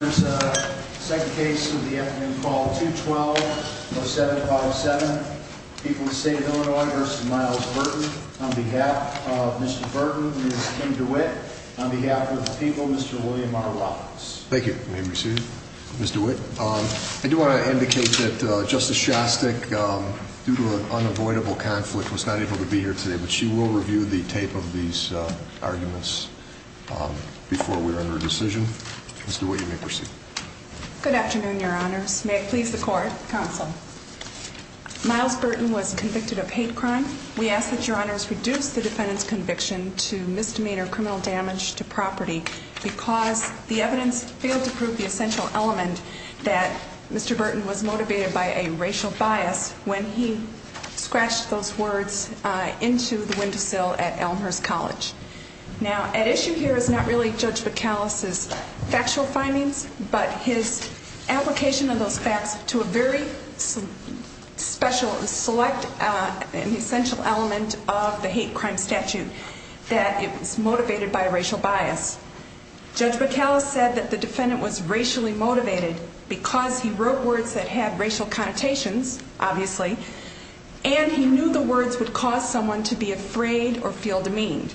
There's a second case of the afternoon called 2-12-07-507, People of the State of Illinois v. Myles Burton on behalf of Mr. Burton and Ms. Kim DeWitt, on behalf of the people, Mr. William R. Roberts. Thank you. May we proceed? Mr. DeWitt? I do want to indicate that Justice Shostak, due to an unavoidable conflict, was not able to be here today, but she will review the tape of these arguments before we render a decision. Ms. DeWitt, you may proceed. Good afternoon, Your Honors. May it please the Court, Counsel. Myles Burton was convicted of hate crime. We ask that Your Honors reduce the defendant's conviction to misdemeanor criminal damage to property because the evidence failed to prove the essential element that Mr. Burton was motivated by a racial bias when he scratched those words into the windowsill at Elmhurst College. Now, at issue here is not really Judge McAuliffe's factual findings, but his application of those facts to a very special and select and essential element of the hate crime statute that is motivated by racial bias. Judge McAuliffe said that the defendant was racially motivated because he wrote words that had racial connotations, obviously, and he knew the words would cause someone to be afraid or feel demeaned.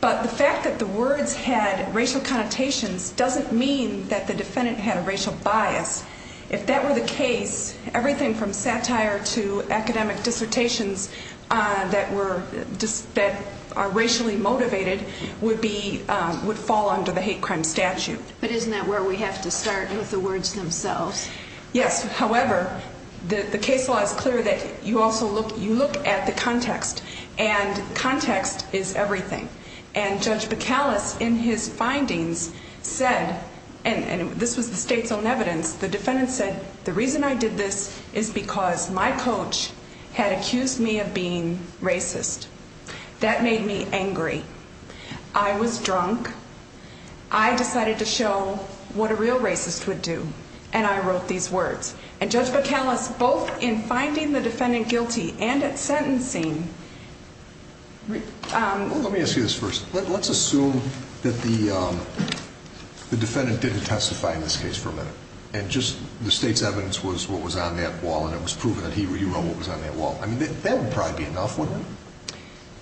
But the fact that the words had racial connotations doesn't mean that the defendant had a racial bias. If that were the case, everything from satire to academic dissertations that are racially motivated would fall under the hate crime statute. But isn't that where we have to start with the words themselves? Yes, however, the case law is clear that you also look at the context, and context is everything. And Judge McAuliffe, in his findings, said, and this was the state's own evidence, the defendant said, the reason I did this is because my coach had accused me of being racist. That made me angry. I was drunk. I decided to show what a real racist would do, and I wrote these words. And Judge McAuliffe, both in finding the defendant guilty and at sentencing... Let me ask you this first. Let's assume that the defendant didn't testify in this case for a minute, and just the state's evidence was what was on that wall, and it was proven that he wrote what was on that wall. I mean, that would probably be enough, wouldn't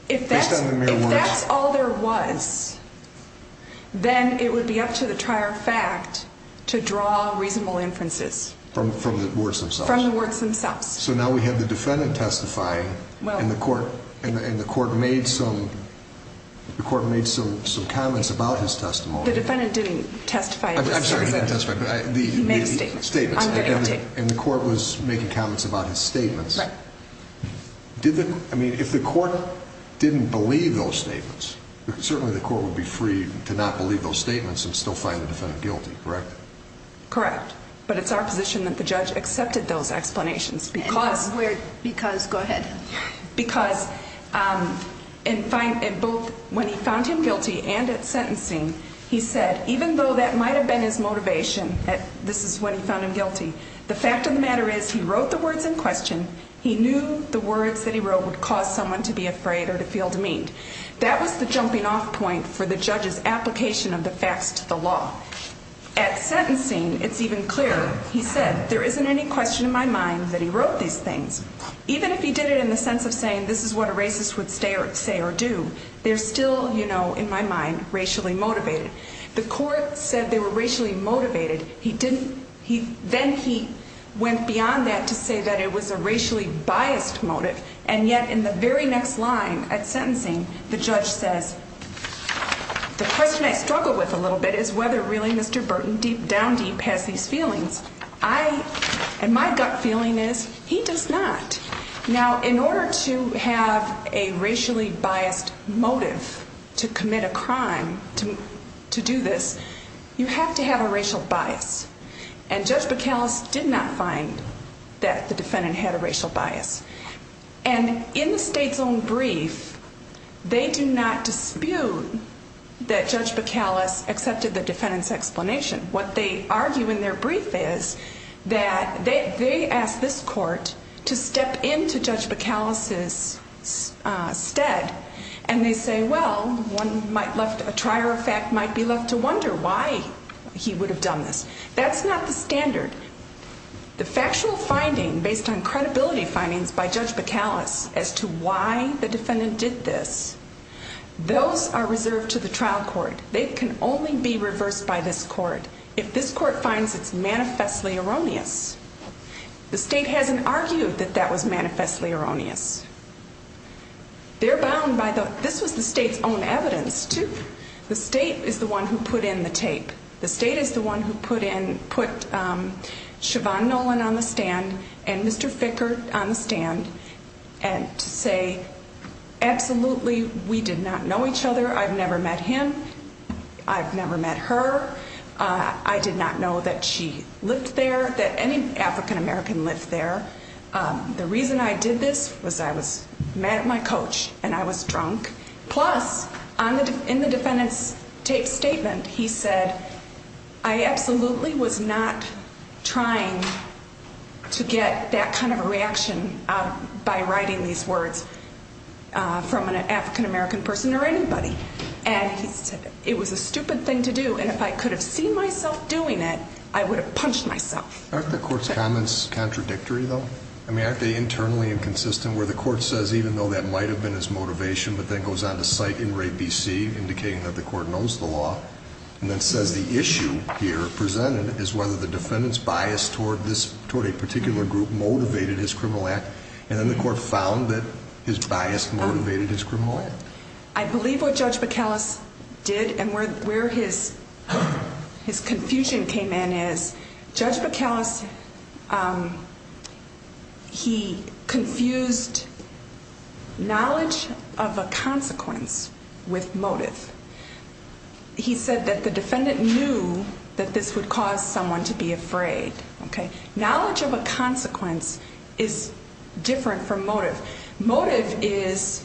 it? Based on the mere words? If that's all there was, then it would be up to the trier of fact to draw reasonable inferences. From the words themselves? From the words themselves. So now we have the defendant testifying, and the court made some comments about his testimony. The defendant didn't testify in this case. I'm sorry, he didn't testify. He made a statement. Statements. And the court was making comments about his statements. Right. I mean, if the court didn't believe those statements, certainly the court would be free to not believe those statements and still find the defendant guilty, correct? Correct. But it's our position that the judge accepted those explanations because... Because, go ahead. Because in both when he found him guilty and at sentencing, he said, even though that might have been his motivation, that this is when he found him guilty, the fact of the matter is he wrote the words in question, he knew the words that he wrote would cause someone to be afraid or to feel demeaned. That was the jumping off point for the judge's application of the facts to the law. At sentencing, it's even clearer, he said, there isn't any question in my mind that he wrote these things. Even if he did it in the sense of saying, this is what a racist would say or do, they're still, you know, in my mind, racially motivated. The court said they were racially motivated. Then he went beyond that to say that it was a racially biased motive. And yet in the very next line at sentencing, the judge says, the question I struggle with a little bit is whether really Mr. Burton, deep down deep, has these feelings. I, and my gut feeling is, he does not. Now, in order to have a racially biased motive to commit a crime, to do this, you have to have a racial bias. And Judge Bacalus did not find that the defendant had a racial bias. And in the state's own brief, they do not dispute that Judge Bacalus accepted the defendant's explanation. What they argue in their brief is that they asked this court to step into Judge Bacalus's stead. And they say, well, one might left, a trier of fact might be left to wonder why he would have done this. That's not the standard. The factual finding, based on credibility findings by Judge Bacalus as to why the defendant did this, those are reserved to the trial court. They can only be reversed by this court. If this court finds it's manifestly erroneous. The state hasn't argued that that was manifestly erroneous. They're bound by the, this was the state's own evidence, too. The state is the one who put in the tape. The state is the one who put in, put Shavon Nolan on the stand and Mr. Ficker on the stand and say, absolutely, we did not know each other. I've never met him. I've never met her. I did not know that she lived there, that any African American lived there. The reason I did this was I was mad at my coach and I was drunk. Plus, in the defendant's tape statement, he said, I absolutely was not trying to get that kind of a reaction by writing these words from an African American person or anybody. And he said, it was a stupid thing to do and if I could have seen myself doing it, I would have punched myself. Aren't the court's comments contradictory, though? I mean, aren't they internally inconsistent, where the court says, even though that might have been his motivation, but then goes on to cite in Ray B.C., indicating that the court knows the law. And then says the issue here presented is whether the defendant's bias toward this, toward a particular group, motivated his criminal act. And then the court found that his bias motivated his criminal act. I believe what Judge Bacalus did and where his confusion came in is, Judge Bacalus, he confused knowledge of a consequence with motive. He said that the defendant knew that this would cause someone to be afraid. Knowledge of a consequence is different from motive. Motive is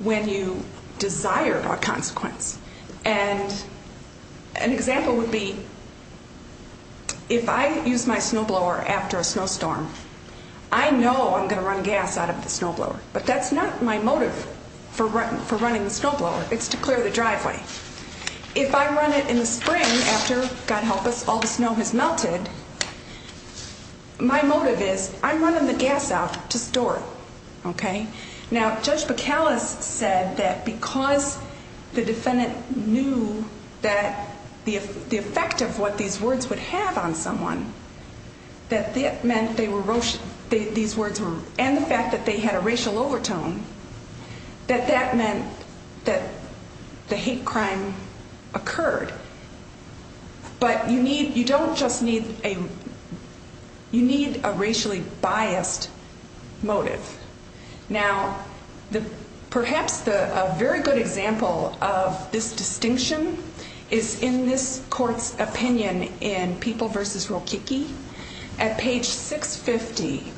when you desire a consequence. And an example would be, if I use my snowblower after a snowstorm, I know I'm going to run gas out of the snowblower. But that's not my motive for running the snowblower. It's to clear the driveway. If I run it in the spring after, God help us, all the snow has melted, my motive is, I'm running the gas out to store it. Okay? Now, Judge Bacalus said that because the defendant knew that the effect of what these words would have on someone, that it meant they were, these words were, and the fact that they had a racial overtone, that that meant that the hate crime occurred. But you need, you don't just need a, you need a racially biased motive. Now, perhaps a very good example of this distinction is in this court's opinion in People v. Rokicki. At page 650,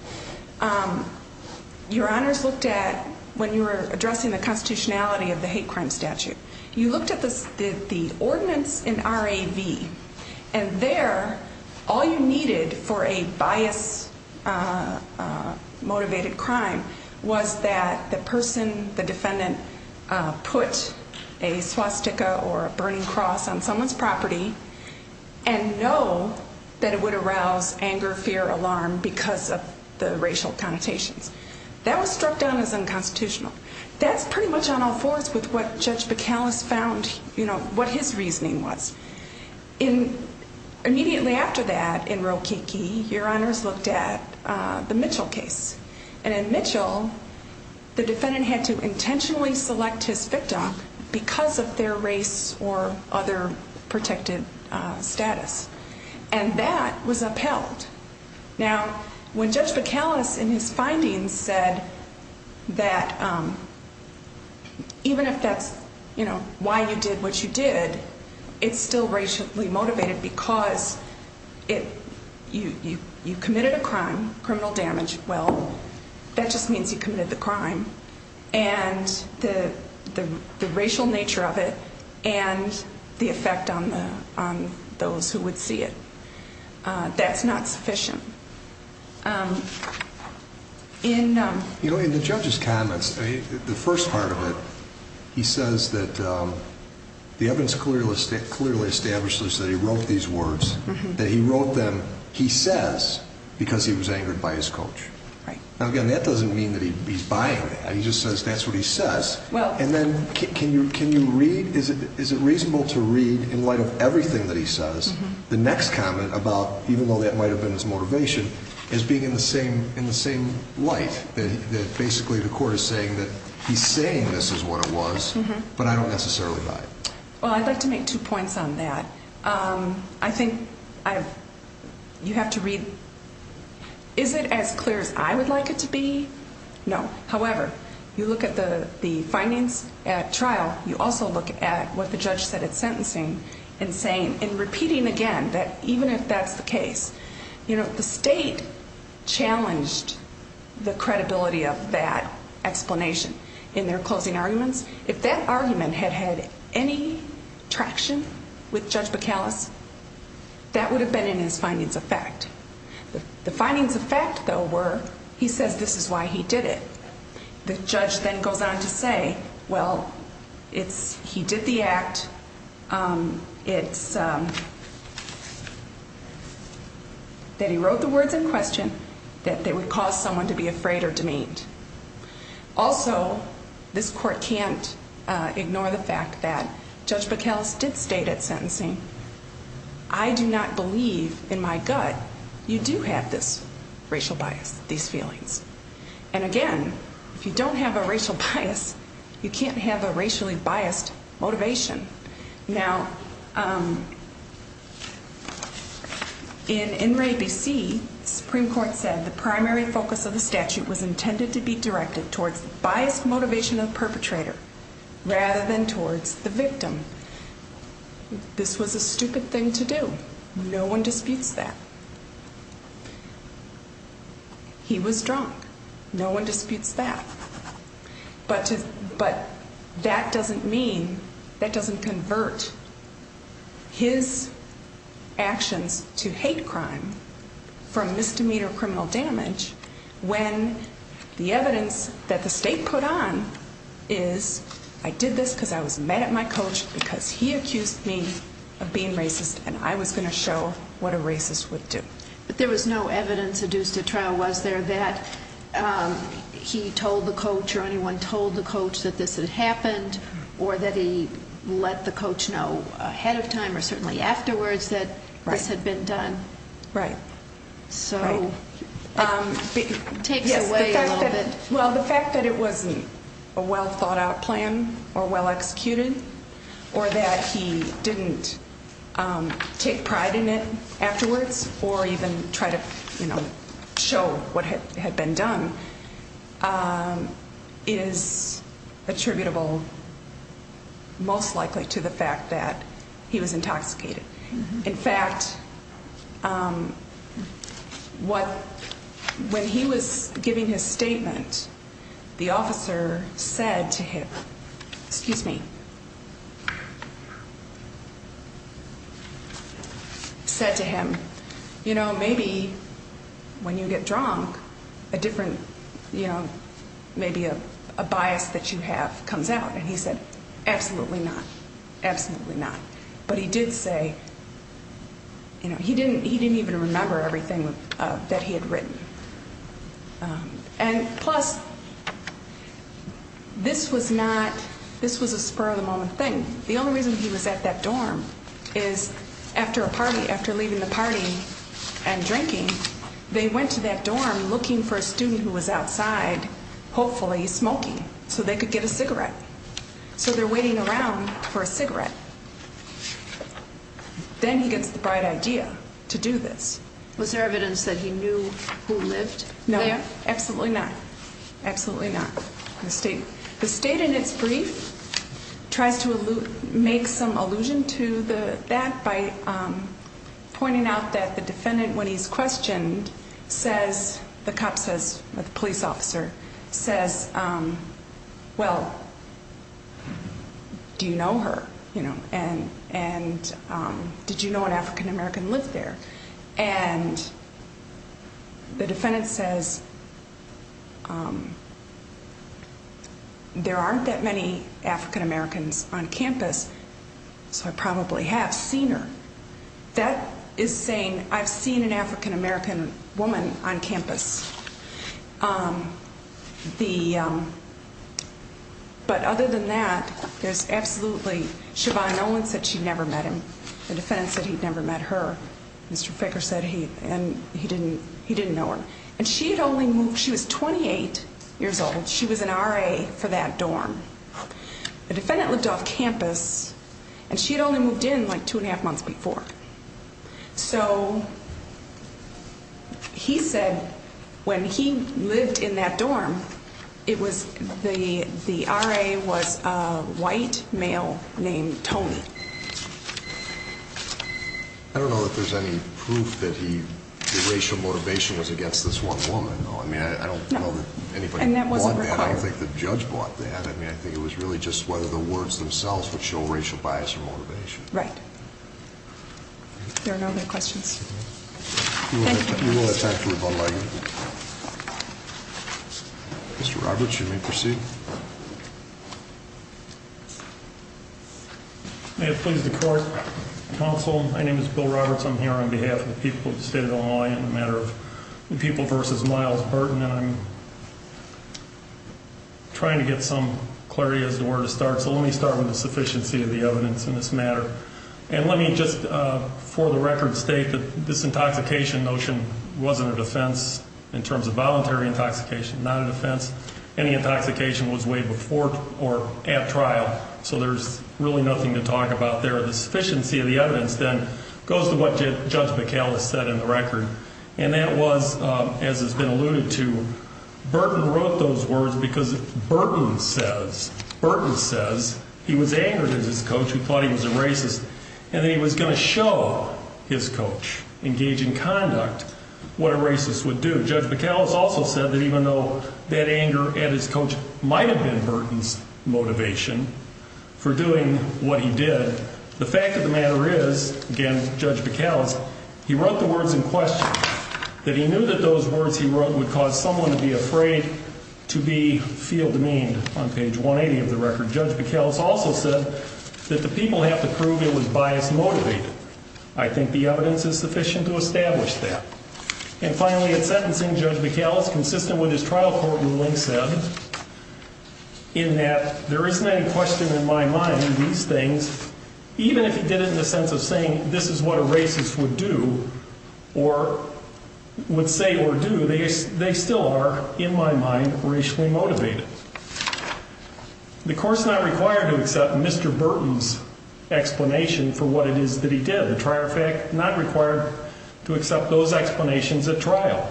your honors looked at, when you were addressing the constitutionality of the hate crime statute, you looked at the ordinance in R.A.V., and there, all you needed for a bias-motivated crime was that the person, the defendant, put a swastika or a burning cross on someone's property and know that it would arouse anger, fear, alarm because of the racial connotations. That was struck down as unconstitutional. That's pretty much on all fours with what Judge Bacalus found, you know, what his reasoning was. In, immediately after that, in Rokicki, your honors looked at the Mitchell case. And in Mitchell, the defendant had to intentionally select his victim because of their race or other protected status. And that was upheld. Now, when Judge Bacalus, in his findings, said that even if that's, you know, why you did what you did, it's still racially motivated because you committed a crime, criminal damage. Well, that just means you committed the crime. And the racial nature of it and the effect on those who would see it. That's not sufficient. You know, in the judge's comments, the first part of it, he says that the evidence clearly establishes that he wrote these words, that he wrote them, he says, because he was angered by his coach. Right. Now, again, that doesn't mean that he's buying that. He just says that's what he says. And then, can you read, is it reasonable to read, in light of everything that he says, the next comment about, even though that might have been his motivation, as being in the same light, that basically the court is saying that he's saying this is what it was, but I don't necessarily buy it. Well, I'd like to make two points on that. I think you have to read, is it as clear as I would like it to be? No. However, you look at the findings at trial, you also look at what the judge said at sentencing, and saying, and repeating again, that even if that's the case, you know, the state challenged the credibility of that explanation in their closing arguments. If that argument had had any traction with Judge Bacallus, that would have been in his findings of fact. The findings of fact, though, were, he says this is why he did it. The judge then goes on to say, well, it's, he did the act, it's, that he wrote the words in question, that they would cause someone to be afraid or demeaned. Also, this court can't ignore the fact that Judge Bacallus did state at sentencing, I do not believe, in my gut, you do have this racial bias, these feelings. And again, if you don't have a racial bias, you can't have a racially biased motivation. Now, in NRA BC, the Supreme Court said the primary focus of the statute was intended to be directed towards biased motivation of the perpetrator, rather than towards the victim. This was a stupid thing to do. No one disputes that. He was drunk. No one disputes that. But to, but that doesn't mean, that doesn't convert his actions to hate crime from misdemeanor criminal damage when the evidence that the state put on is I did this because I was mad at my coach because he accused me of being racist and I was going to show what a racist would do. But there was no evidence adduced at trial, was there, that he told the coach or anyone told the coach that this had happened or that he let the coach know ahead of time or certainly afterwards that this had been done? Right. So, it takes away a little bit. Well, the fact that it wasn't a well thought out plan or well executed or that he didn't take pride in it afterwards or even try to, you know, show what had been done is attributable most likely to the fact that he was intoxicated. In fact, what, when he was giving his statement, the officer said to him, excuse me, said to him, you know, maybe when you get drunk, a different, you know, maybe a bias that you have comes out. And he said, absolutely not, absolutely not. But he did say, you know, he didn't even remember everything that he had written. And plus, this was not, this was a spur of the moment thing. The only reason he was at that dorm is after a party, after leaving the party and drinking, they went to that dorm looking for a student who was outside, hopefully smoking, so they could get a cigarette. So they're waiting around for a cigarette. Then he gets the bright idea to do this. Was there evidence that he knew who lived there? No, absolutely not, absolutely not. The state in its brief tries to make some allusion to that by pointing out that the defendant, when he's questioned, says, the cop says, the police officer says, well, do you know her? And did you know an African-American lived there? And the defendant says, there aren't that many African-Americans on campus, so I probably have seen her. That is saying I've seen an African-American woman on campus. But other than that, there's absolutely, Siobhan Nolan said she never met him. The defendant said he'd never met her. Mr. Ficker said he didn't know her. And she had only moved, she was 28 years old. She was an RA for that dorm. The defendant lived off campus, and she had only moved in like two and a half months before. So he said when he lived in that dorm, the RA was a white male named Tony. I don't know if there's any proof that the racial motivation was against this one woman, though. I mean, I don't know that anybody bought that. I don't think the judge bought that. I mean, I think it was really just whether the words themselves would show racial bias or motivation. Right. If there are no other questions, thank you. We will have time for rebuttal. Mr. Roberts, you may proceed. May it please the court, counsel, my name is Bill Roberts. I'm here on behalf of the people of the state of Illinois in the matter of the people versus Miles Burton. And I'm trying to get some clarity as to where to start. So let me start with the sufficiency of the evidence in this matter. And let me just, for the record, state that this intoxication notion wasn't a defense in terms of voluntary intoxication. Not a defense. Any intoxication was way before or at trial. So there's really nothing to talk about there. The sufficiency of the evidence, then, goes to what Judge McCallis said in the record. And that was, as has been alluded to, Burton wrote those words because Burton says he was angered at his coach who thought he was a racist. And that he was going to show his coach, engage in conduct, what a racist would do. Judge McCallis also said that even though that anger at his coach might have been Burton's motivation for doing what he did, the fact of the matter is, again, Judge McCallis, he wrote the words in question. That he knew that those words he wrote would cause someone to be afraid to be feel demeaned on page 180 of the record. Judge McCallis also said that the people have to prove it was bias motivated. I think the evidence is sufficient to establish that. And finally, in sentencing, Judge McCallis, consistent with his trial court ruling, said in that there isn't any question in my mind these things, even if he did it in the sense of saying this is what a racist would do or would say or do, they still are, in my mind, racially motivated. The court's not required to accept Mr. Burton's explanation for what it is that he did. The trier effect, not required to accept those explanations at trial.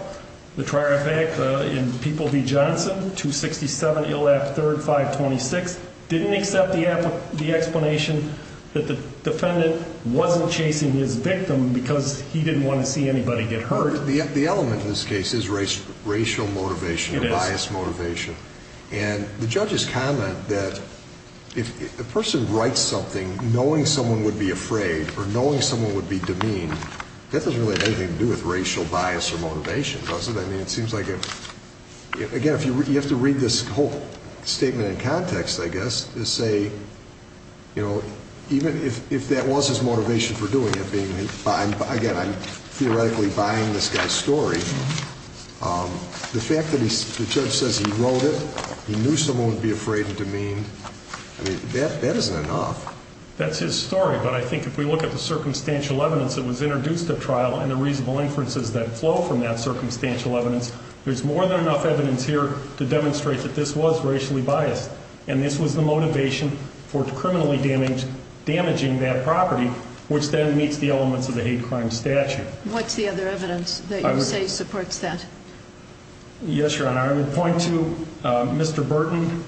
The trier effect in People v. Johnson, 267 ILF 3rd 526, didn't accept the explanation that the defendant wasn't chasing his victim because he didn't want to see anybody get hurt. The element in this case is racial motivation. It is. And the judge's comment that if a person writes something knowing someone would be afraid or knowing someone would be demeaned, that doesn't really have anything to do with racial bias or motivation, does it? I mean, it seems like, again, you have to read this whole statement in context, I guess, to say, you know, even if that was his motivation for doing it, Again, I'm theoretically buying this guy's story. The fact that the judge says he wrote it, he knew someone would be afraid and demeaned, I mean, that isn't enough. That's his story. But I think if we look at the circumstantial evidence that was introduced at trial and the reasonable inferences that flow from that circumstantial evidence, there's more than enough evidence here to demonstrate that this was racially biased. And this was the motivation for criminally damaging that property, which then meets the elements of the hate crime statute. What's the other evidence that you say supports that? Yes, Your Honor. I would point to Mr. Burton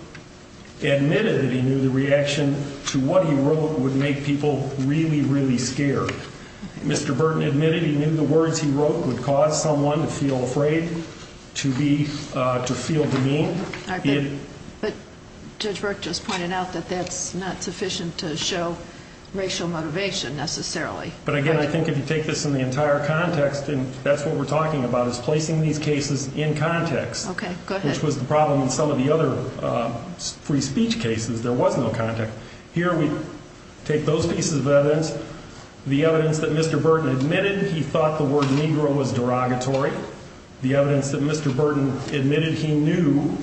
admitted that he knew the reaction to what he wrote would make people really, really scared. Mr. Burton admitted he knew the words he wrote would cause someone to feel afraid, to feel demeaned. But Judge Burke just pointed out that that's not sufficient to show racial motivation necessarily. But again, I think if you take this in the entire context, and that's what we're talking about, is placing these cases in context. Okay, go ahead. Which was the problem in some of the other free speech cases. There was no context. Here we take those pieces of evidence, the evidence that Mr. Burton admitted he thought the word Negro was derogatory, the evidence that Mr. Burton admitted he knew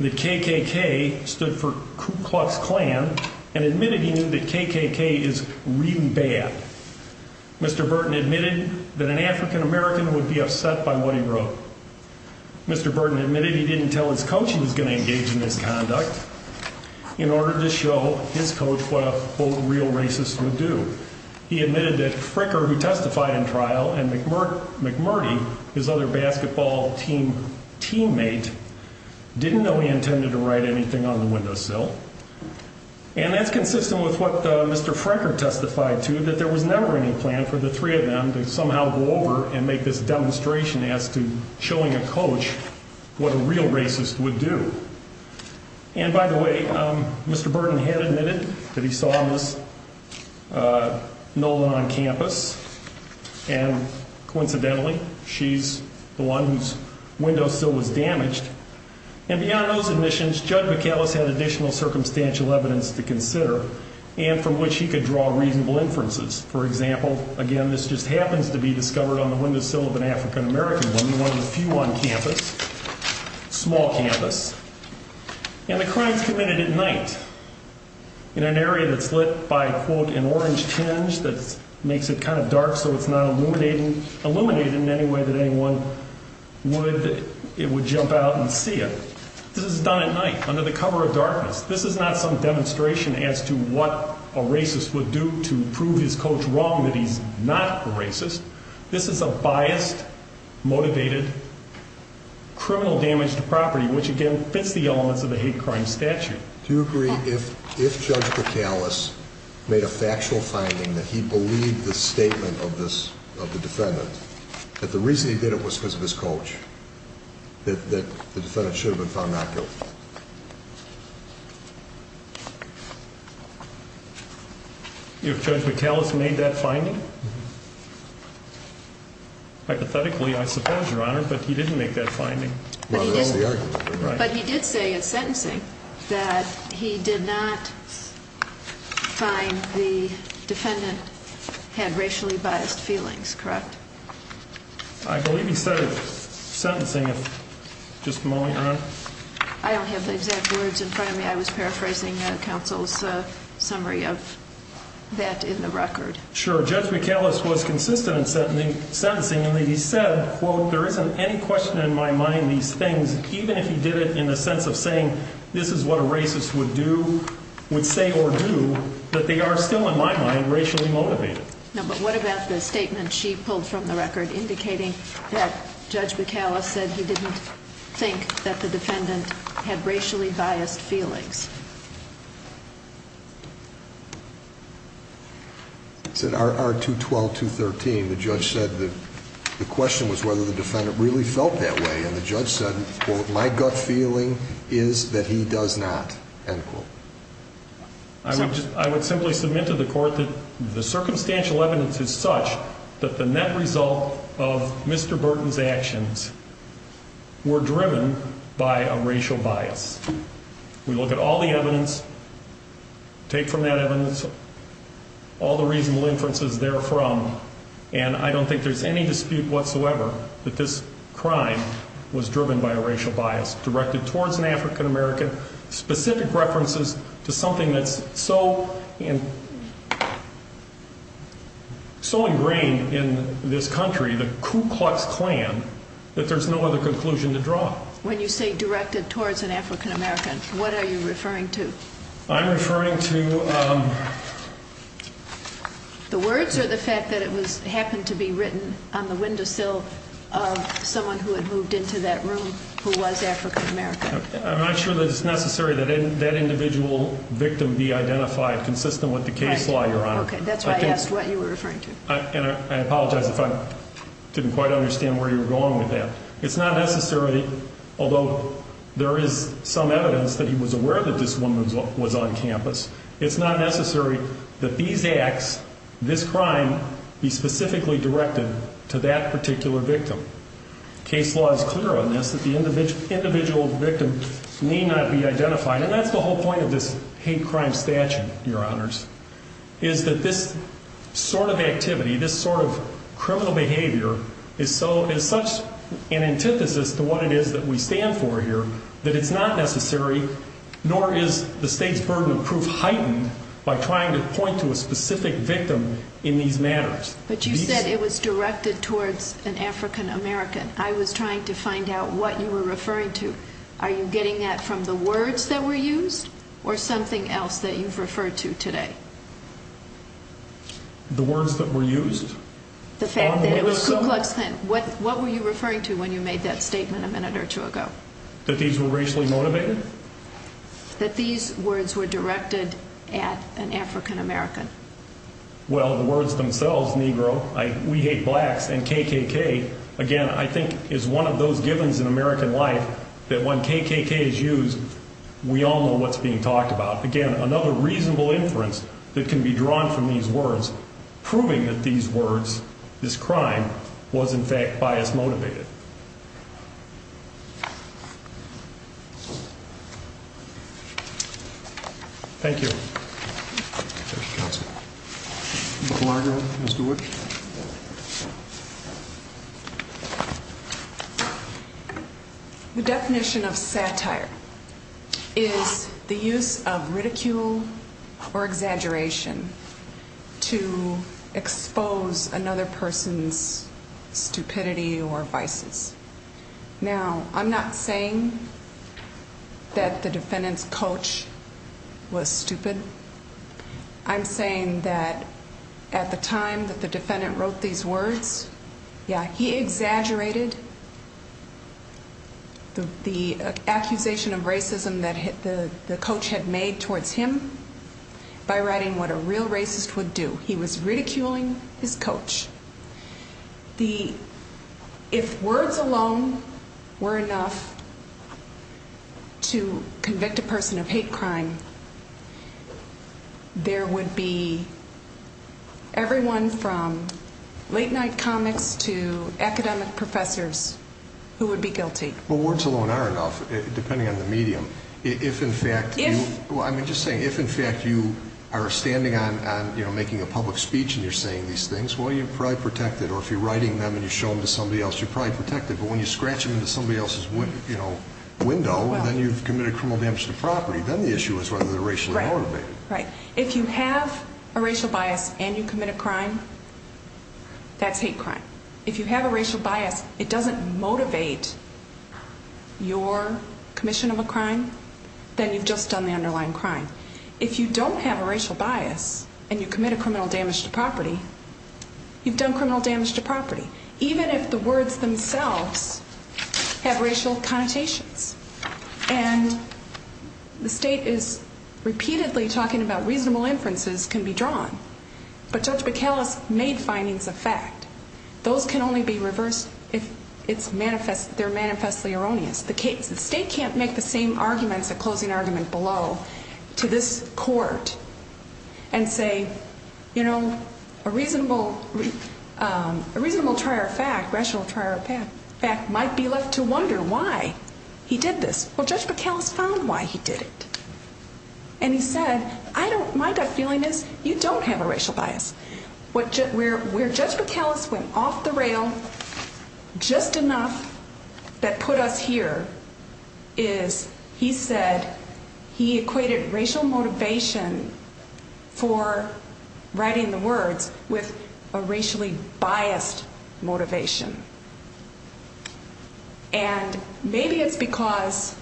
that KKK stood for Klux Klan, and admitted he knew that KKK is really bad. Mr. Burton admitted that an African American would be upset by what he wrote. Mr. Burton admitted he didn't tell his coach he was going to engage in this conduct in order to show his coach what a real racist would do. He admitted that Fricker, who testified in trial, and McMurdy, his other basketball team teammate, didn't know he intended to write anything on the windowsill. And that's consistent with what Mr. Fricker testified to, that there was never any plan for the three of them to somehow go over and make this demonstration as to showing a coach what a real racist would do. And by the way, Mr. Burton had admitted that he saw Ms. Nolan on campus, and coincidentally, she's the one whose windowsill was damaged. And beyond those admissions, Judge McAllis had additional circumstantial evidence to consider, and from which he could draw reasonable inferences. For example, again, this just happens to be discovered on the windowsill of an African American woman, one of the few on campus, small campus. And the crime's committed at night, in an area that's lit by, quote, an orange tinge that makes it kind of dark so it's not illuminated in any way that anyone would, it would jump out and see it. This is done at night, under the cover of darkness. This is not some demonstration as to what a racist would do to prove his coach wrong, that he's not a racist. This is a biased, motivated, criminal damage to property, which again fits the elements of a hate crime statute. Do you agree if Judge McAllis made a factual finding that he believed the statement of the defendant, that the reason he did it was because of his coach, that the defendant should have been found not guilty? If Judge McAllis made that finding? Hypothetically, I suppose, Your Honor, but he didn't make that finding. But he did say in sentencing that he did not find the defendant had racially biased feelings, correct? I believe he said in sentencing, just a moment, Your Honor. I don't have the exact words in front of me. I was paraphrasing counsel's summary of that in the record. Sure, Judge McAllis was consistent in sentencing and that he said, quote, there isn't any question in my mind these things, even if he did it in the sense of saying this is what a racist would do, would say or do, that they are still in my mind racially motivated. No, but what about the statement she pulled from the record indicating that Judge McAllis said he didn't think that the defendant had racially biased feelings? It's in R212-213. The judge said the question was whether the defendant really felt that way, and the judge said, quote, my gut feeling is that he does not, end quote. I would simply submit to the court that the circumstantial evidence is such that the net result of Mr. Burton's actions were driven by a racial bias. We look at all the evidence, take from that evidence, all the reasonable inferences therefrom, and I don't think there's any dispute whatsoever that this crime was driven by a racial bias, directed towards an African American, specific references to something that's so ingrained in this country, the Ku Klux Klan, that there's no other conclusion to draw. When you say directed towards an African American, what are you referring to? I'm referring to... The words or the fact that it happened to be written on the windowsill of someone who had moved into that room who was African American? I'm not sure that it's necessary that that individual victim be identified consistent with the case law, Your Honor. Okay, that's why I asked what you were referring to. And I apologize if I didn't quite understand where you were going with that. It's not necessary, although there is some evidence that he was aware that this woman was on campus, it's not necessary that these acts, this crime, be specifically directed to that particular victim. Case law is clear on this, that the individual victim need not be identified, and that's the whole point of this hate crime statute, Your Honors, is that this sort of activity, this sort of criminal behavior is such an antithesis to what it is that we stand for here, that it's not necessary, nor is the state's burden of proof heightened by trying to point to a specific victim in these matters. But you said it was directed towards an African American. I was trying to find out what you were referring to. Are you getting that from the words that were used or something else that you've referred to today? The words that were used? The fact that it was Ku Klux Klan. What were you referring to when you made that statement a minute or two ago? That these were racially motivated? That these words were directed at an African American. Well, the words themselves, Negro, We Hate Blacks, and KKK, again, I think is one of those givens in American life that when KKK is used, we all know what's being talked about. Again, another reasonable inference that can be drawn from these words, proving that these words, this crime, was in fact bias motivated. Thank you. Ms. McLaughlin, Ms. DeWitt. The definition of satire is the use of ridicule or exaggeration to expose another person's stupidity or vices. Now, I'm not saying that the defendant's coach was stupid. I'm saying that at the time that the defendant wrote these words, yeah, he exaggerated the accusation of racism that the coach had made towards him by writing what a real racist would do. He was ridiculing his coach. If words alone were enough to convict a person of hate crime, there would be everyone from late night comics to academic professors who would be guilty. Well, words alone are enough, depending on the medium. If, in fact, you are standing on making a public speech and you're saying these things, well, you're probably protected. Or if you're writing them and you show them to somebody else, you're probably protected. But when you scratch them into somebody else's window, then you've committed criminal damage to property. Then the issue is whether they're racially motivated. Right. If you have a racial bias and you commit a crime, that's hate crime. If you have a racial bias, it doesn't motivate your commission of a crime, then you've just done the underlying crime. If you don't have a racial bias and you commit a criminal damage to property, you've done criminal damage to property, even if the words themselves have racial connotations. And the state is repeatedly talking about reasonable inferences can be drawn. But Judge McAuliffe made findings of fact. Those can only be reversed if they're manifestly erroneous. The state can't make the same arguments, a closing argument below, to this court and say, you know, a reasonable trial of fact, rational trial of fact, might be left to wonder why he did this. Well, Judge McAuliffe found why he did it. And he said, I don't, my gut feeling is you don't have a racial bias. Where Judge McAuliffe went off the rail just enough that put us here is he said he equated racial motivation for writing the words with a racially biased motivation. And maybe it's because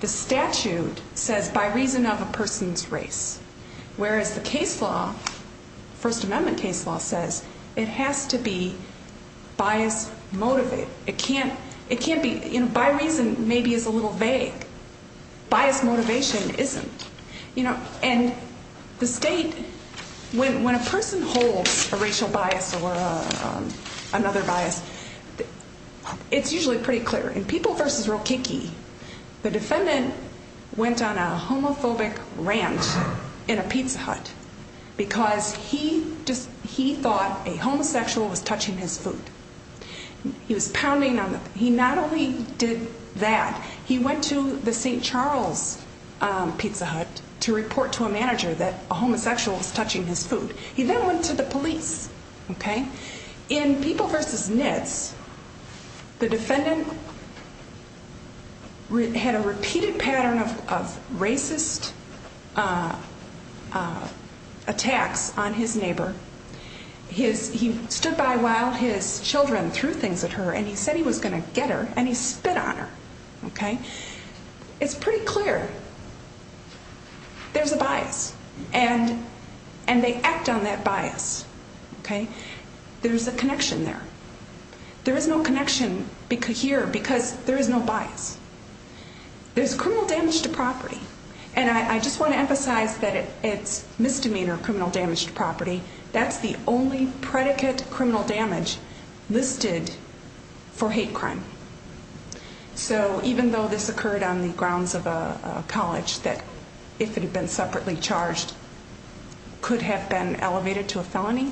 the statute says by reason of a person's race, whereas the case law, First Amendment case law, says it has to be bias motivated. It can't, it can't be, you know, by reason maybe is a little vague. Bias motivation isn't. You know, and the state, when a person holds a racial bias or another bias, it's usually pretty clear and people versus real kicky. The defendant went on a homophobic rant in a pizza hut because he just he thought a homosexual was touching his foot. He was pounding on the, he not only did that, he went to the St. Charles Pizza Hut to report to a manager that a homosexual was touching his foot. He then went to the police. In people versus nits, the defendant had a repeated pattern of racist attacks on his neighbor. He stood by while his children threw things at her and he said he was going to get her and he spit on her. It's pretty clear. There's a bias and and they act on that bias. OK, there's a connection there. There is no connection here because there is no bias. There's criminal damage to property. And I just want to emphasize that it's misdemeanor, criminal damage to property. That's the only predicate criminal damage listed for hate crime. So even though this occurred on the grounds of a college that if it had been separately charged. Could have been elevated to a felony.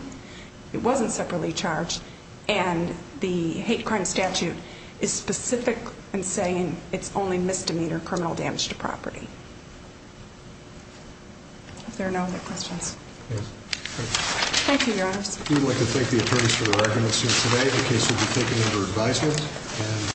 It wasn't separately charged and the hate crime statute is specific and saying it's only misdemeanor criminal damage to property. There are no other questions. Thank you. I would like to thank the attorneys for the recommendations today. The case will be taken under advisement.